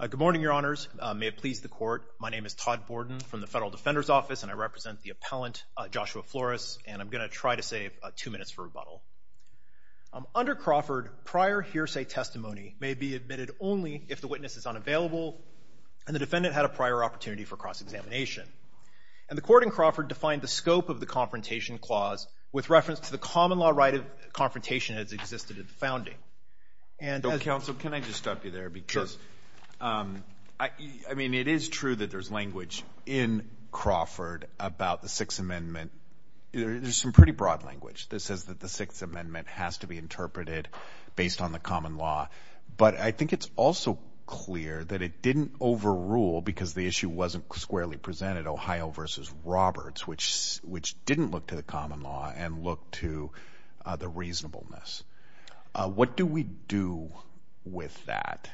Good morning, your honors. May it please the court, my name is Todd Borden from the Federal Defender's Office and I represent the appellant, Joshua Flores, and I'm going to try to save two minutes for rebuttal. Under Crawford, prior hearsay testimony may be admitted only if the witness is unavailable and the defendant had a prior opportunity for cross-examination. And the court in Crawford defined the scope of the confrontation clause with reference to the common law right of confrontation as existed at the founding. And as counsel, can I just stop you there? Because I mean, it is true that there's language in Crawford about the Sixth Amendment. There's some pretty broad language that says that the Sixth Amendment has to be interpreted based on the common law. But I think it's also clear that it didn't overrule because the issue wasn't squarely presented, Ohio versus Roberts, which didn't look to the common law and look to the reasonableness. What do we do with that?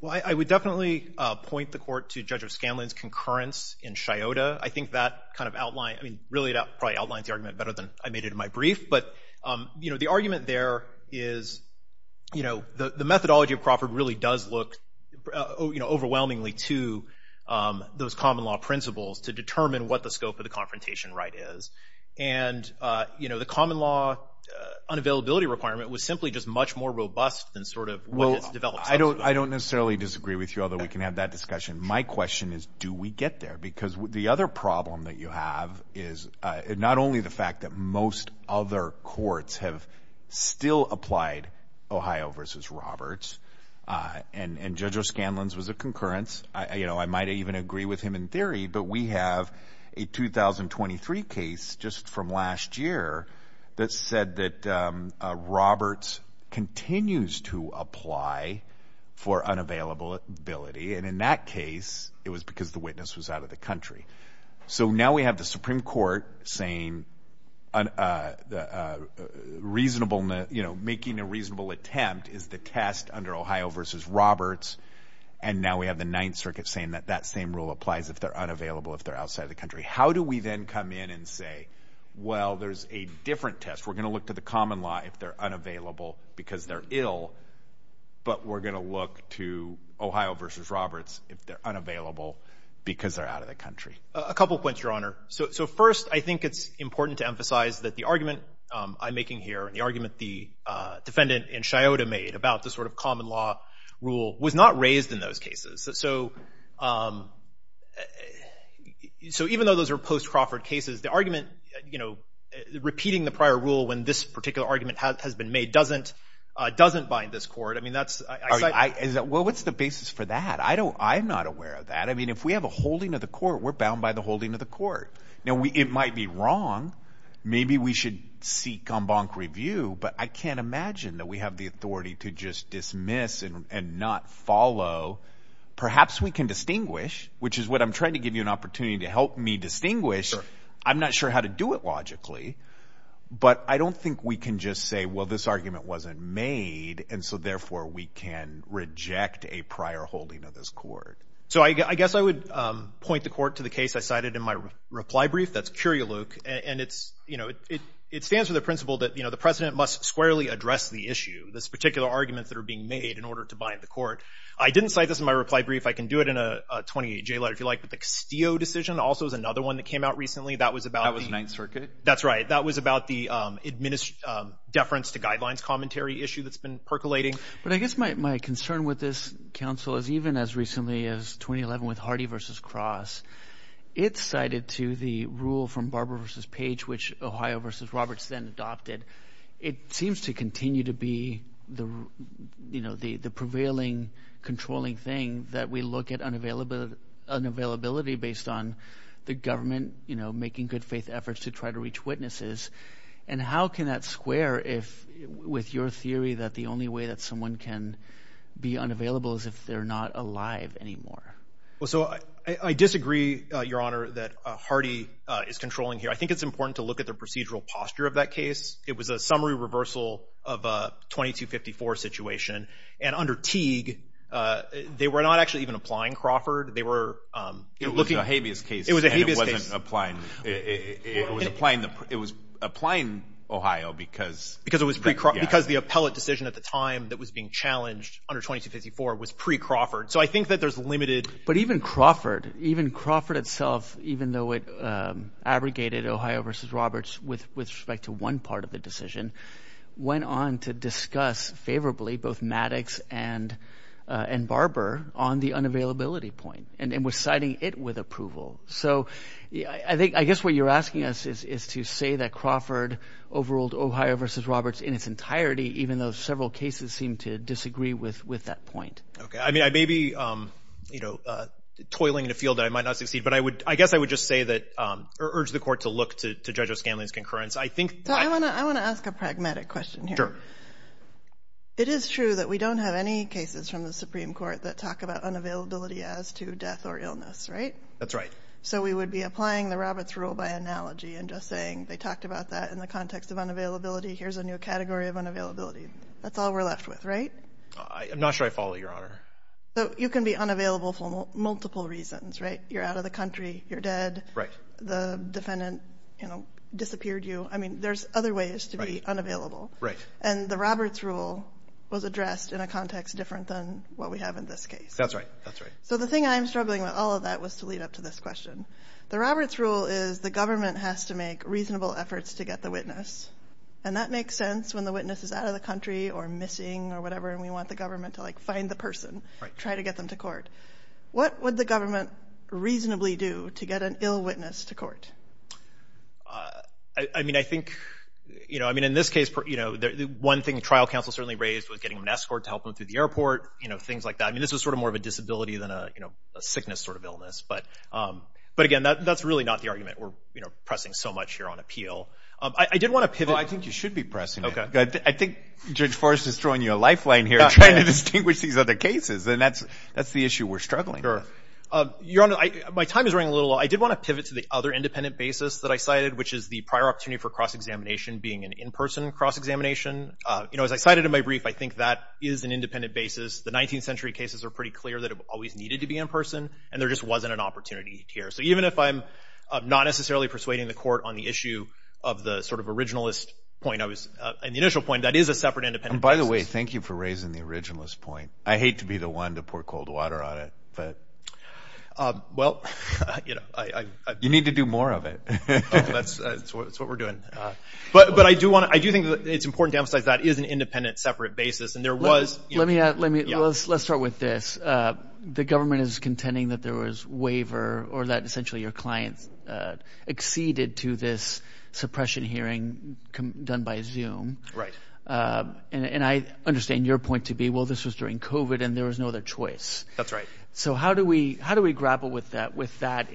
Well, I would definitely point the court to Judge O'Scanlan's concurrence in Scioto. I think that kind of outlined, I mean, really it probably outlines the argument better than I made it in my brief. But, you know, the argument there is, you know, the methodology of Crawford really does look, you know, overwhelmingly to those common law principles to determine what the scope of the confrontation right is. And, you know, the common law unavailability requirement was simply just much more robust than sort of what has developed since then. I don't necessarily disagree with you, although we can have that discussion. My question is, do we get there? Because the other problem that you have is not only the fact that most other courts have still applied Ohio versus Roberts, and Judge O'Scanlan's was a concurrence. You know, I might even agree with him in theory, but we have a 2023 case just from last year that said that Roberts continues to apply for unavailability. And in that case, it was because the witness was out of the country. So now we have the Supreme Court saying, you know, making a reasonable attempt is the test under Ohio versus Roberts. And now we have the Ninth Circuit saying that that same rule applies if they're unavailable, if they're outside the country. How do we then come in and say, well, there's a different test. We're going to look to the common law if they're unavailable because they're ill, but we're unavailable because they're out of the country? A couple of points, Your Honor. So first, I think it's important to emphasize that the argument I'm making here and the argument the defendant in Scioto made about the sort of common law rule was not raised in those cases. So even though those are post-Crawford cases, the argument, you know, repeating the prior rule when this particular argument has been made doesn't bind this court. I mean, that's... Well, what's the basis for that? I'm not aware of that. I mean, if we have a holding of the court, we're bound by the holding of the court. Now, it might be wrong. Maybe we should seek en banc review, but I can't imagine that we have the authority to just dismiss and not follow. Perhaps we can distinguish, which is what I'm trying to give you an opportunity to help me distinguish. I'm not sure how to do it logically, but I don't think we can just say, well, this argument wasn't made, and so, therefore, we can reject a prior holding of this court. So I guess I would point the court to the case I cited in my reply brief. That's Curialuk. And it's, you know, it stands for the principle that, you know, the president must squarely address the issue, this particular argument that are being made in order to bind the court. I didn't cite this in my reply brief. I can do it in a 28-J letter, if you like. But the Castillo decision also is another one that came out recently. That was about... That was Ninth Circuit? That's right. That was about the deference to guidelines commentary issue that's been percolating. But I guess my concern with this, counsel, is even as recently as 2011 with Hardy v. Cross, it's cited to the rule from Barber v. Page, which Ohio v. Roberts then adopted. It seems to continue to be the, you know, the prevailing, controlling thing that we look at unavailability based on the government, you know, making good faith efforts to try to reach witnesses. And how can that square with your theory that the only way that someone can be unavailable is if they're not alive anymore? Well, so I disagree, Your Honor, that Hardy is controlling here. I think it's important to look at the procedural posture of that case. It was a summary reversal of a 2254 situation. And under Teague, they were not actually even applying Crawford. They were looking... It was a habeas case. It wasn't applying. It was applying Ohio because... Because it was pre-Crawford. Because the appellate decision at the time that was being challenged under 2254 was pre-Crawford. So I think that there's limited... But even Crawford, even Crawford itself, even though it abrogated Ohio v. Roberts with respect to one part of the decision, went on to discuss favorably both Maddox and Barber on the unavailability point and was siding it with approval. So I guess what you're asking us is to say that Crawford overruled Ohio v. Roberts in its entirety, even though several cases seem to disagree with that point. Okay. I mean, I may be toiling in a field that I might not succeed, but I guess I would just say that... Or urge the Court to look to Judge O'Scanlan's concurrence. I think... I want to ask a pragmatic question here. It is true that we don't have any cases from the Supreme Court that talk about unavailability as to death or illness, right? That's right. So we would be applying the Roberts rule by analogy and just saying, they talked about that in the context of unavailability. Here's a new category of unavailability. That's all we're left with, right? I'm not sure I follow, Your Honor. So you can be unavailable for multiple reasons, right? You're out of the country, you're dead, the defendant, you know, disappeared you. I mean, there's other ways to be unavailable. And the Roberts rule was addressed in a context different than what we have in this case. That's right, that's right. So the thing I'm struggling with all of that was to lead up to this question. The Roberts rule is the government has to make reasonable efforts to get the witness. And that makes sense when the witness is out of the country or missing or whatever, and we want the government to like find the person, try to get them to court. What would the government reasonably do to get an ill witness to court? I mean, I think, you know, I mean, in this case, you know, the one thing trial counsel certainly raised was getting an escort to help them through the airport, you know, things like that. I mean, this was sort of more of a disability than a, you know, a sickness sort of illness. But again, that's really not the argument we're, you know, pressing so much here on appeal. I did want to pivot. Well, I think you should be pressing it. I think Judge Forrest is throwing you a lifeline here trying to distinguish these other cases. And that's the issue we're struggling with. Your Honor, my time is running a little low. I did want to pivot to the other independent basis that I cited, which is the prior opportunity for cross-examination being an in-person cross-examination. You know, as I cited in my brief, I think that is an independent basis. The 19th century cases are pretty clear that it always needed to be in-person, and there just wasn't an opportunity here. So even if I'm not necessarily persuading the court on the issue of the sort of originalist point I was, and the initial point, that is a separate independent basis. And by the way, thank you for raising the originalist point. I hate to be the one to pour cold water on it, but. Well, you know, I. You need to do more of it. That's what we're doing. But I do want to, I do think it's important to emphasize that is an independent, separate basis. And there was. Let me, let's start with this. The government is contending that there was waiver or that essentially your clients acceded to this suppression hearing done by Zoom. Right. And I understand your point to be, well, this was during COVID and there was no other choice. That's right. So how do we, how do we grapple with that, with that?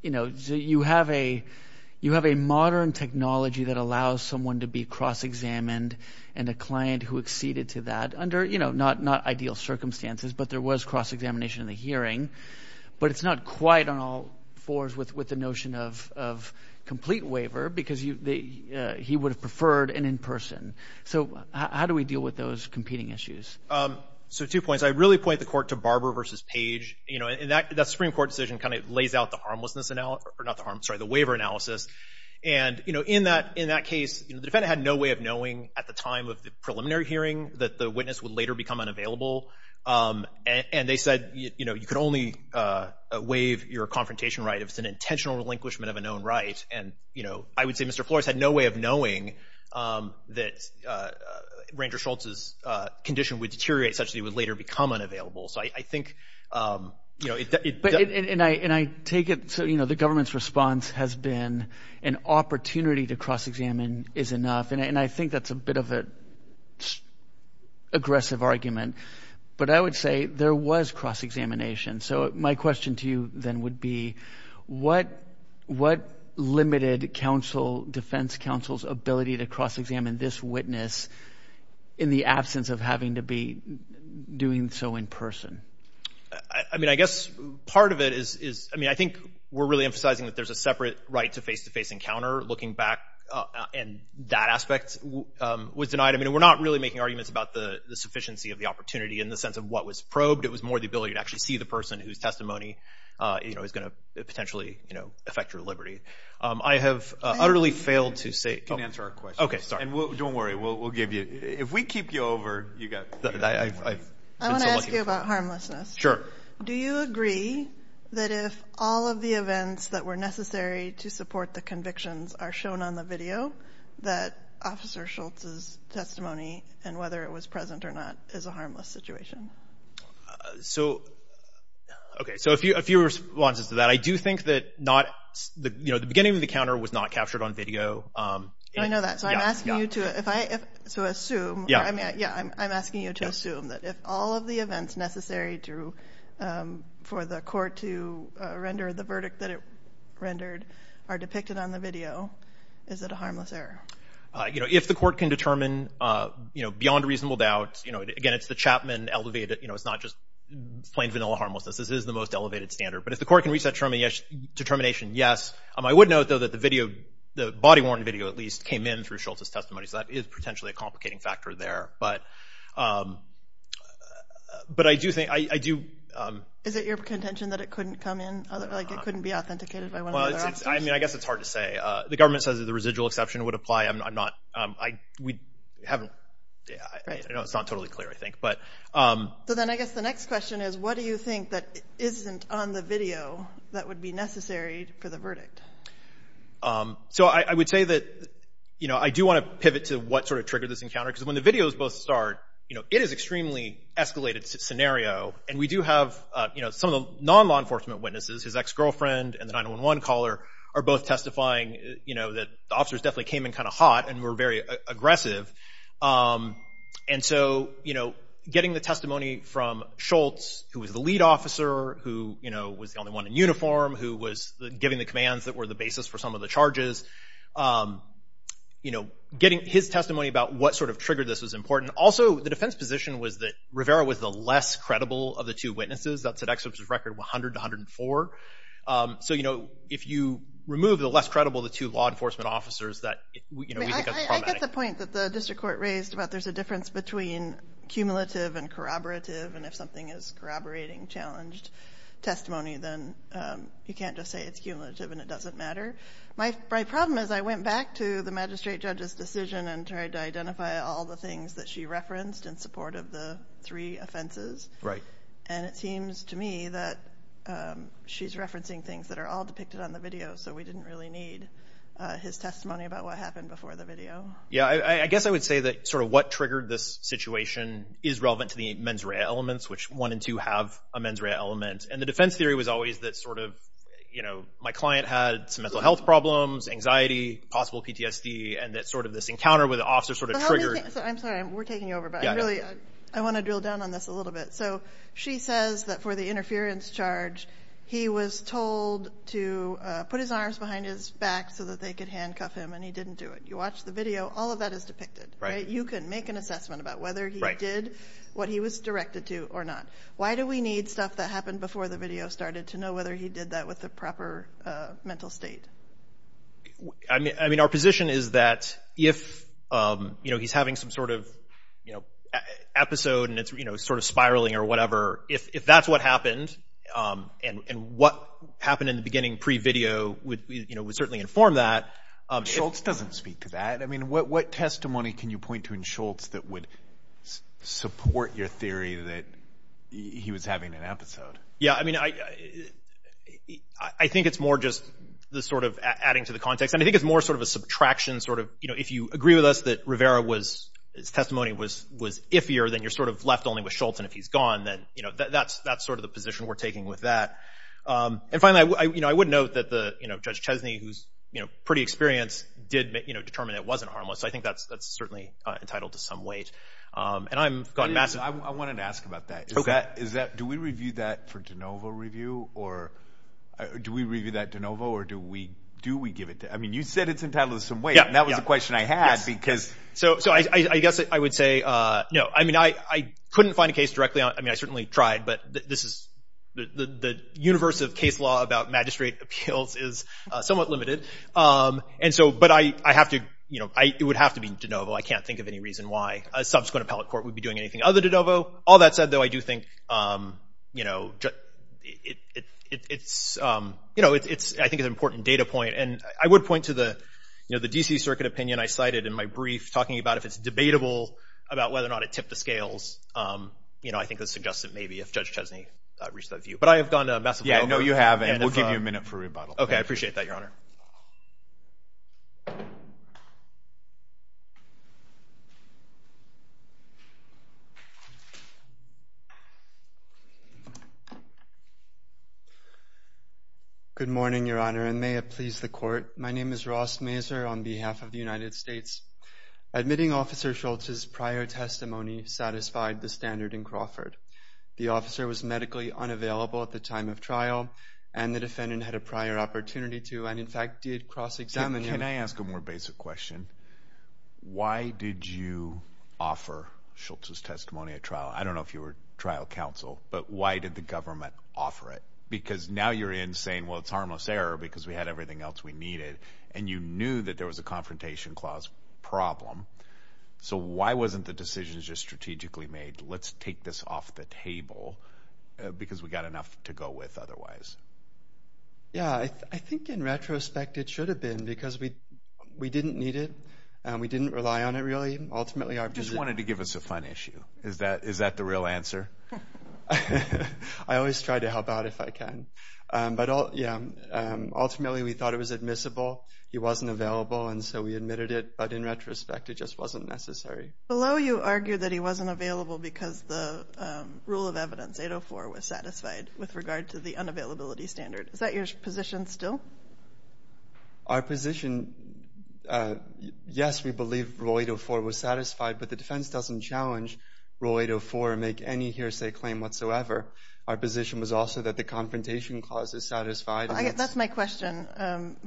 You know, you have a, you have a modern technology that allows someone to be cross-examined and a client who acceded to that under, you know, not, not ideal circumstances, but there was cross-examination in the hearing, but it's not quite on all fours with, with the notion of, of complete waiver because you, he would have preferred an in-person. So how do we deal with those competing issues? So two points, I really point the court to Barber versus Page, you know, and that, that Supreme Court decision kind of lays out the harmlessness analysis or not the harm, sorry, the waiver analysis. And, you know, in that, in that case, the defendant had no way of knowing at the time of the preliminary hearing that the witness would later become unavailable. And they said, you know, you could only waive your confrontation right if it's an intentional relinquishment of a known right. And, you know, I would say Mr. Flores had no way of later become unavailable. So I think, you know, it, and I, and I take it, so, you know, the government's response has been an opportunity to cross-examine is enough. And I think that's a bit of a aggressive argument, but I would say there was cross-examination. So my question to you then would be what, what limited counsel, defense counsel's ability to cross-examine this witness in the absence of having to be doing so in person? I, I mean, I guess part of it is, is, I mean, I think we're really emphasizing that there's a separate right to face-to-face encounter, looking back, and that aspect was denied. I mean, and we're not really making arguments about the, the sufficiency of the opportunity in the sense of what was probed. It was more the ability to actually see the person whose testimony, you know, is going to potentially, you know, affect your liberty. I have utterly failed to say... Well, don't worry. We'll, we'll give you, if we keep you over, you got, I've, I've... I want to ask you about harmlessness. Sure. Do you agree that if all of the events that were necessary to support the convictions are shown on the video, that Officer Schultz's testimony, and whether it was present or not, is a harmless situation? So, okay, so a few, a few responses to that. I do think that not, you know, the beginning of the encounter was not captured on video. I know that. So I'm asking you to, if I, if, so assume, or I mean, yeah, I'm, I'm asking you to assume that if all of the events necessary to, for the court to render the verdict that it rendered are depicted on the video, is it a harmless error? You know, if the court can determine, you know, beyond reasonable doubt, you know, again, it's the Chapman elevated, you know, it's not just plain vanilla harmlessness. This is the most elevated standard. But if the court can reach that determination, yes. I would note, though, that the video, the body-worn video, at least, came in through Schultz's testimony. So that is potentially a complicating factor there. But, but I do think, I do. Is it your contention that it couldn't come in, like it couldn't be authenticated by one of the other officers? Well, I mean, I guess it's hard to say. The government says that the residual exception would apply. I'm not, I, we haven't, I know it's not totally clear, I think, but. So then I guess the next question is, what do you think that isn't on the video that would be necessary for the verdict? So I would say that, you know, I do want to pivot to what sort of triggered this encounter. Because when the videos both start, you know, it is extremely escalated scenario. And we do have, you know, some of the non-law enforcement witnesses, his ex-girlfriend and the 911 caller, are both testifying, you know, that the officers definitely came in kind of hot and were very aggressive. And so, you know, getting the testimony from Schultz, who was the lead officer, who, you know, was the only one in uniform, who was giving the commands that were the basis for some of the charges. You know, getting his testimony about what sort of triggered this was important. Also, the defense position was that Rivera was the less credible of the two witnesses. That's at exceptions record 100 to 104. So, you know, if you remove the less credible of the two law enforcement officers, that, you know, we think that's problematic. I get the point that the district court raised about there's a difference between cumulative and corroborative. And if something is corroborating challenged testimony, then you can't just say it's cumulative and it doesn't matter. My problem is I went back to the magistrate judge's decision and tried to identify all the things that she referenced in support of the three offenses. Right. And it seems to me that she's referencing things that are all depicted on the video, so we didn't really need his testimony about what happened before the video. Yeah, I guess I would say that sort of what triggered this situation is relevant to the mens rea elements, which one and two have a mens rea element. And the defense theory was always that sort of, you know, my client had some mental health problems, anxiety, possible PTSD, and that sort of this encounter with the officer sort of triggered. I'm sorry, we're taking over, but I really I want to drill down on this a little bit. So she says that for the interference charge, he was told to put his arms behind his back so that they could handcuff him, and he didn't do it. You watch the video, all of that is depicted. Right. You can make an assessment about whether he did what he was directed to or not. Why do we need stuff that happened before the video started to know whether he did that with the proper mental state? I mean, our position is that if, you know, he's having some sort of, you know, episode and it's, you know, sort of spiraling or whatever, if that's what happened and what happened in the beginning pre-video would, you know, would certainly inform that. Schultz doesn't speak to that. I mean, what testimony can you point to in Schultz that would support your theory that he was having an episode? Yeah, I mean, I think it's more just the sort of adding to the context. And I think it's more sort of a subtraction sort of, you know, if you agree with us that Rivera was, his testimony was iffier, then you're sort of left only with Schultz. And if he's gone, then, you know, that's sort of the position we're taking with that. And finally, you know, I would note that the, you know, Judge Chesney, who's, you know, pretty experienced, did, you know, determine it wasn't harmless. So I think that's certainly entitled to some weight. And I've gotten massive... I wanted to ask about that. Is that, do we review that for de novo review? Or do we review that de novo? Or do we, do we give it to, I mean, you said it's entitled to some weight. And that was a question I had because... So I guess I would say, no, I mean, I couldn't find a case directly on, I mean, I certainly tried, but this is, the universe of case law about magistrate appeals is somewhat limited. And so, but I have to, you know, it would have to be de novo. I can't think of any reason why a subsequent appellate court would be doing anything other de novo. All that said, though, I do think, you know, it's, you know, it's, I think it's an important data point. And I would point to the, you know, the D.C. Circuit opinion I cited in my brief, talking about if it's debatable about whether or not it tipped the scales. You know, I think this would suggest that maybe if Judge Chesney reached that view. But I have gone to Massimiliano. Yeah, no, you haven't. We'll give you a minute for rebuttal. Okay, I appreciate that, Your Honor. Good morning, Your Honor, and may it please the Court. My name is Ross Mazur on behalf of the United States. Admitting Officer Schultz's prior testimony satisfied the standard in the case. The officer was medically unavailable at the time of trial, and the defendant had a prior opportunity to and, in fact, did cross-examine him. Can I ask a more basic question? Why did you offer Schultz's testimony at trial? I don't know if you were trial counsel, but why did the government offer it? Because now you're in saying, well, it's harmless error because we had everything else we needed, and you knew that there was a confrontation clause problem. So why wasn't the decision just strategically made, let's take this off the table because we've got enough to go with otherwise? Yeah, I think in retrospect, it should have been because we didn't need it, and we didn't rely on it really. Ultimately, our visit... You just wanted to give us a fun issue. Is that the real answer? I always try to help out if I can. But ultimately, we thought it was admissible. He wasn't available, and so we admitted it. But in retrospect, it just wasn't necessary. Below, you argued that he wasn't available because the rule of evidence 804 was satisfied with regard to the unavailability standard. Is that your position still? Our position, yes, we believe rule 804 was satisfied, but the defense doesn't challenge rule 804 and make any hearsay claim whatsoever. Our position was also that the confrontation clause is satisfied. That's my question.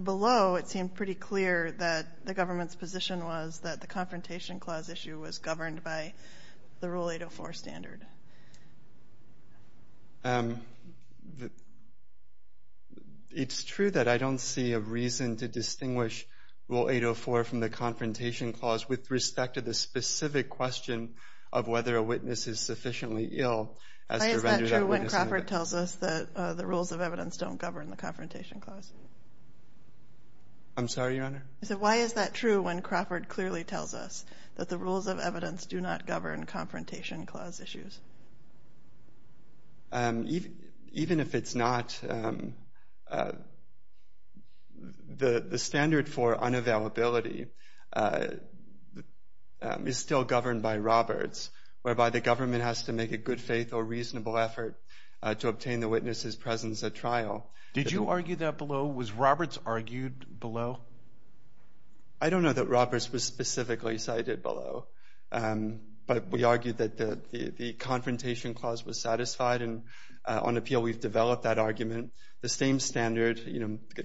Below, it seemed pretty clear that the government's position was that the confrontation clause issue was governed by the rule 804 standard. It's true that I don't see a reason to distinguish rule 804 from the confrontation clause with respect to the specific question of whether a witness is sufficiently ill as to render that witness... Why is that true when Crawford tells us that the rules of evidence don't govern the confrontation clause? I'm sorry, Your Honor? Why is that true when Crawford clearly tells us that the rules of evidence do not govern confrontation clause issues? Even if it's not, the standard for unavailability is still governed by Roberts, whereby the government has to make a good faith or reasonable effort to obtain the witness's presence at trial. Did you argue that below? Was Roberts argued below? I don't know that Roberts was specifically cited below, but we argued that the confrontation clause was satisfied. On appeal, we've developed that argument. The same standard,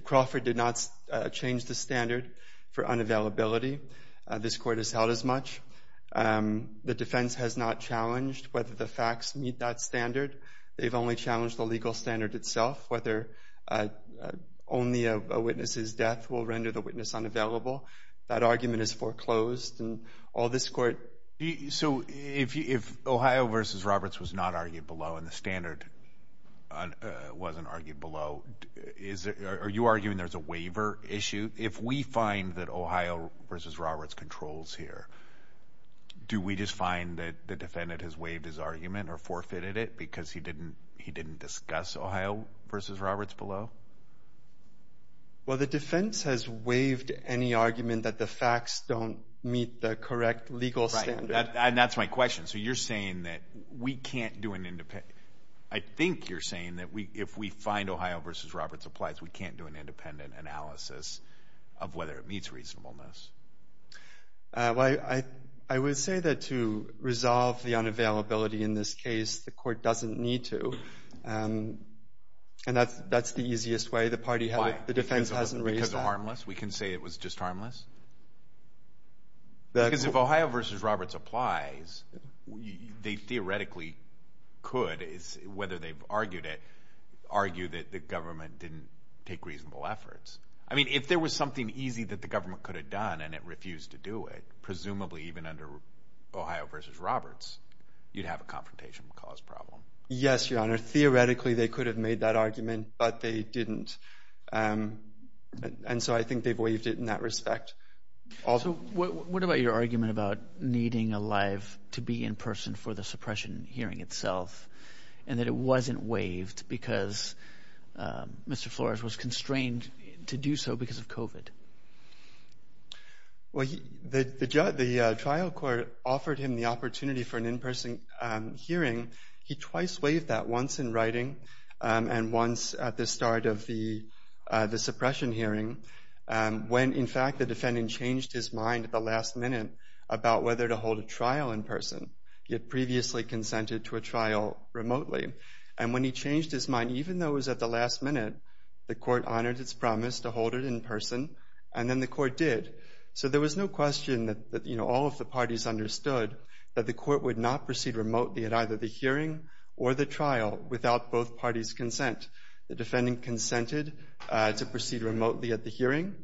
Crawford did not change the standard for unavailability. This Court has held as much. The defense has not challenged whether the facts meet that standard. They've only challenged the legal standard itself, whether only a witness's death will render the witness unavailable. That argument is foreclosed, and all this Court... So if Ohio v. Roberts was not argued below and the standard wasn't argued below, are you arguing there's a waiver issue? If we find that Ohio v. Roberts controls here, do we just find that the defendant has waived his argument or forfeited it because he didn't discuss Ohio v. Roberts below? Well, the defense has waived any argument that the facts don't meet the correct legal standard. Right, and that's my question. So you're saying that we can't do an... I think you're saying that if we find Ohio v. Roberts applies, we can't do an independent analysis of whether it meets reasonableness. Well, I would say that to resolve the unavailability in this case, the Court doesn't need to, and that's the easiest way. The defense hasn't raised that. Why? Because it's harmless? We can say it was just harmless? Because if Ohio v. Roberts applies, they theoretically could, whether they've argued it, argue that the government didn't take reasonable efforts. I mean, if there was something easy that the government could have done and it refused to do it, presumably even under Ohio v. Roberts, you'd have a confrontation cause problem. Yes, Your Honor. Theoretically, they could have made that argument, but they didn't. And so I think they've waived it in that respect. Also what about your argument about needing a live to be in person for the suppression hearing itself, and that it wasn't waived because Mr. Flores was constrained to do so because of COVID? Well, the trial court offered him the opportunity for an in-person hearing. He twice waived that, once in writing and once at the start of the suppression hearing, when in fact the defendant changed his mind at the last minute about whether to hold a trial in person. He had previously consented to a trial remotely. And when he changed his mind, even though it was at the last minute, the court honored its promise to hold it in person. And then the court did. So there was no question that all of the parties understood that the court would not proceed remotely at either the hearing or the trial without both parties' consent. The defendant consented to proceed remotely at the hearing,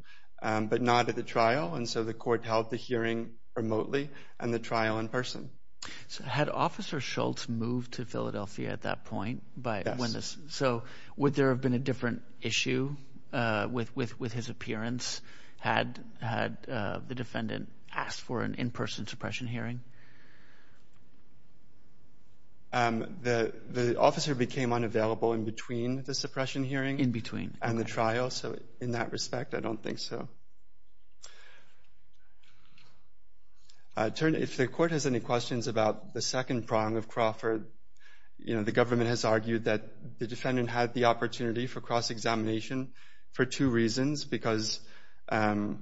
but not at the trial. And so the court held the hearing remotely and the trial in person. Had Officer Schultz moved to Philadelphia at that point? So would there have been a different issue with his appearance had the defendant asked for an in-person suppression hearing? The officer became unavailable in between the suppression hearing and the trial. So the second prong of Crawford, the government has argued that the defendant had the opportunity for cross-examination for two reasons. Because the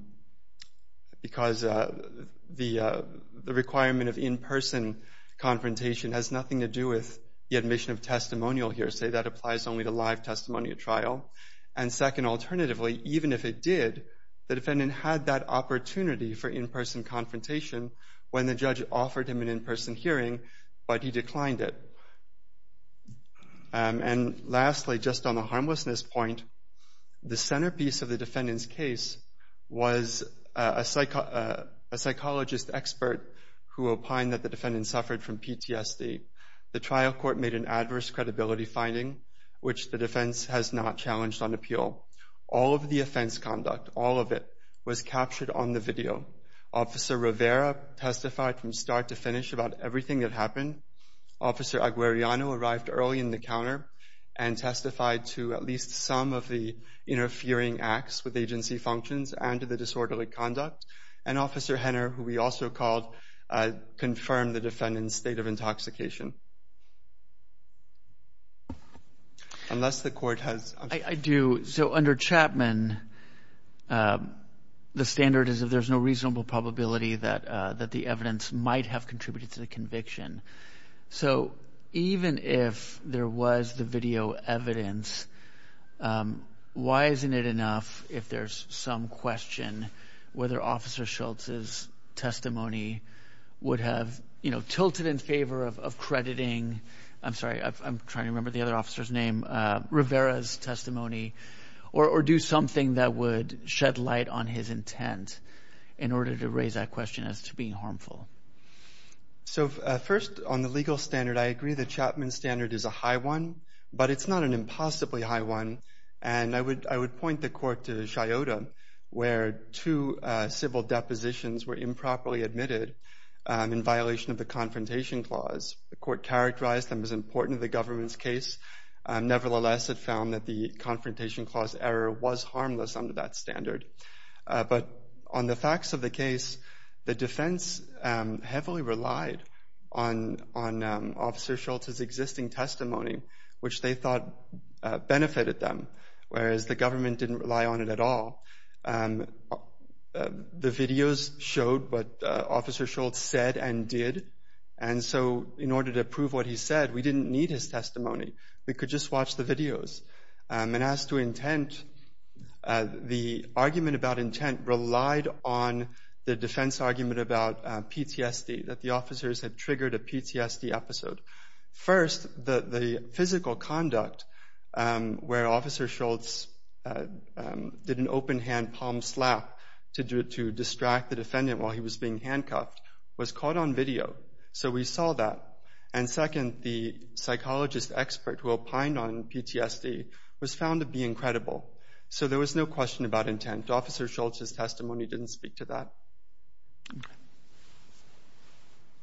requirement of in-person confrontation has nothing to do with the admission of testimonial hearsay. That applies only to live testimony at trial. And second, alternatively, even if it did, the defendant had that opportunity for in-person confrontation when the judge offered him an in-person hearing, but he declined it. And lastly, just on the harmlessness point, the centerpiece of the defendant's case was a psychologist expert who opined that the defendant suffered from PTSD. The trial court made an adverse credibility finding, which the defense has not challenged on appeal. All of the offense conduct, all of it, was captured on the video. Officer Rivera testified from start to finish about everything that happened. Officer Aguirreano arrived early in the counter and testified to at least some of the interfering acts with agency functions and to the disorderly conduct. And Officer Henner, who we also called, confirmed the defendant's state of intoxication. I do. So under Chapman, the standard is if there's no reasonable probability that the evidence might have contributed to the conviction. So even if there was the video evidence, why isn't it enough if there's some question whether Officer Schultz's testimony would have tilted in favor of crediting, I'm sorry, I'm trying to remember the other officer's name, Rivera's testimony, or do something that would shed light on his intent in order to raise that question as to being harmful? So first, on the legal standard, I agree that Chapman's standard is a high one, but it's not an impossibly high one. And I would point the court to Chiota, where two civil depositions were improperly admitted in violation of the Confrontation Clause. The court characterized them as important to the government's case. Nevertheless, it found that the Confrontation Clause error was harmless under that standard. But on the facts of the case, the defense heavily relied on Officer Schultz's existing testimony, which they thought benefited them, whereas the government didn't rely on it at all. The videos showed what Officer Schultz said and did, and so in order to prove what he said, we didn't need his testimony. We could just watch the videos. And as to intent, the argument about intent relied on the defense argument about PTSD, that the officers had triggered a PTSD episode. First, the physical conduct, where Officer Schultz did an open-hand palm slap to distract the defendant while he was being handcuffed, was caught on video. So we saw that. And second, the psychologist expert who opined on PTSD was found to be incredible. So there was no question about intent. Officer Schultz's testimony didn't speak to that.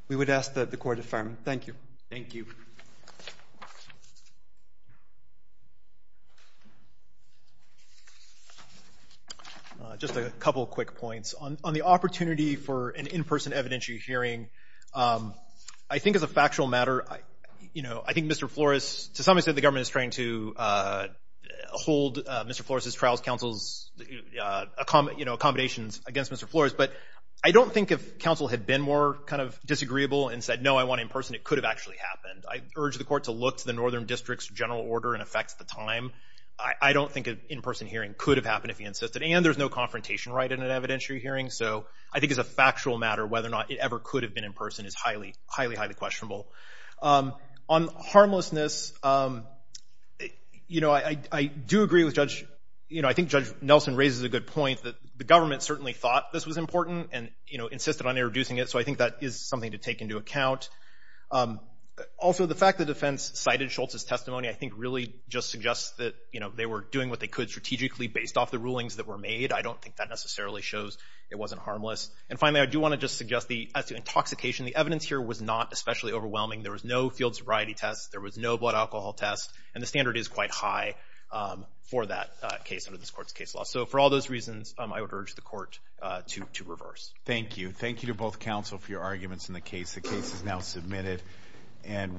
We would ask that the court affirm. Thank you. Just a couple of quick points. On the opportunity for an in-person evidentiary hearing, I think as a factual matter, you know, I think Mr. Flores, to some extent the government is trying to hold Mr. Flores' trials counsel's, you know, accommodations against Mr. Flores. But I don't think if counsel had been more kind of disagreeable and said, no, I want in person, it could have actually happened. I urge the court to look to the Northern District's general order and effects at the time. I don't think an in-person hearing could have happened if he insisted. And there's no confrontation right in an evidentiary hearing. So I think as a factual matter, whether or not it ever could have been in person is highly, highly, highly questionable. On harmlessness, you know, I do agree with Judge, you know, I think Judge Nelson raises a good point that the government certainly thought this was important and, you know, Also, the fact the defense cited Schultz's testimony, I think really just suggests that, you know, they were doing what they could strategically based off the rulings that were made. I don't think that necessarily shows it wasn't harmless. And finally, I do want to just suggest the as to intoxication, the evidence here was not especially overwhelming. There was no field sobriety tests. There was no blood alcohol test. And the standard is quite high for that case under this court's case law. So for all those reasons, I would urge the court to reverse. Thank you. Thank you to both counsel for your arguments in the case. The case is now submitted. And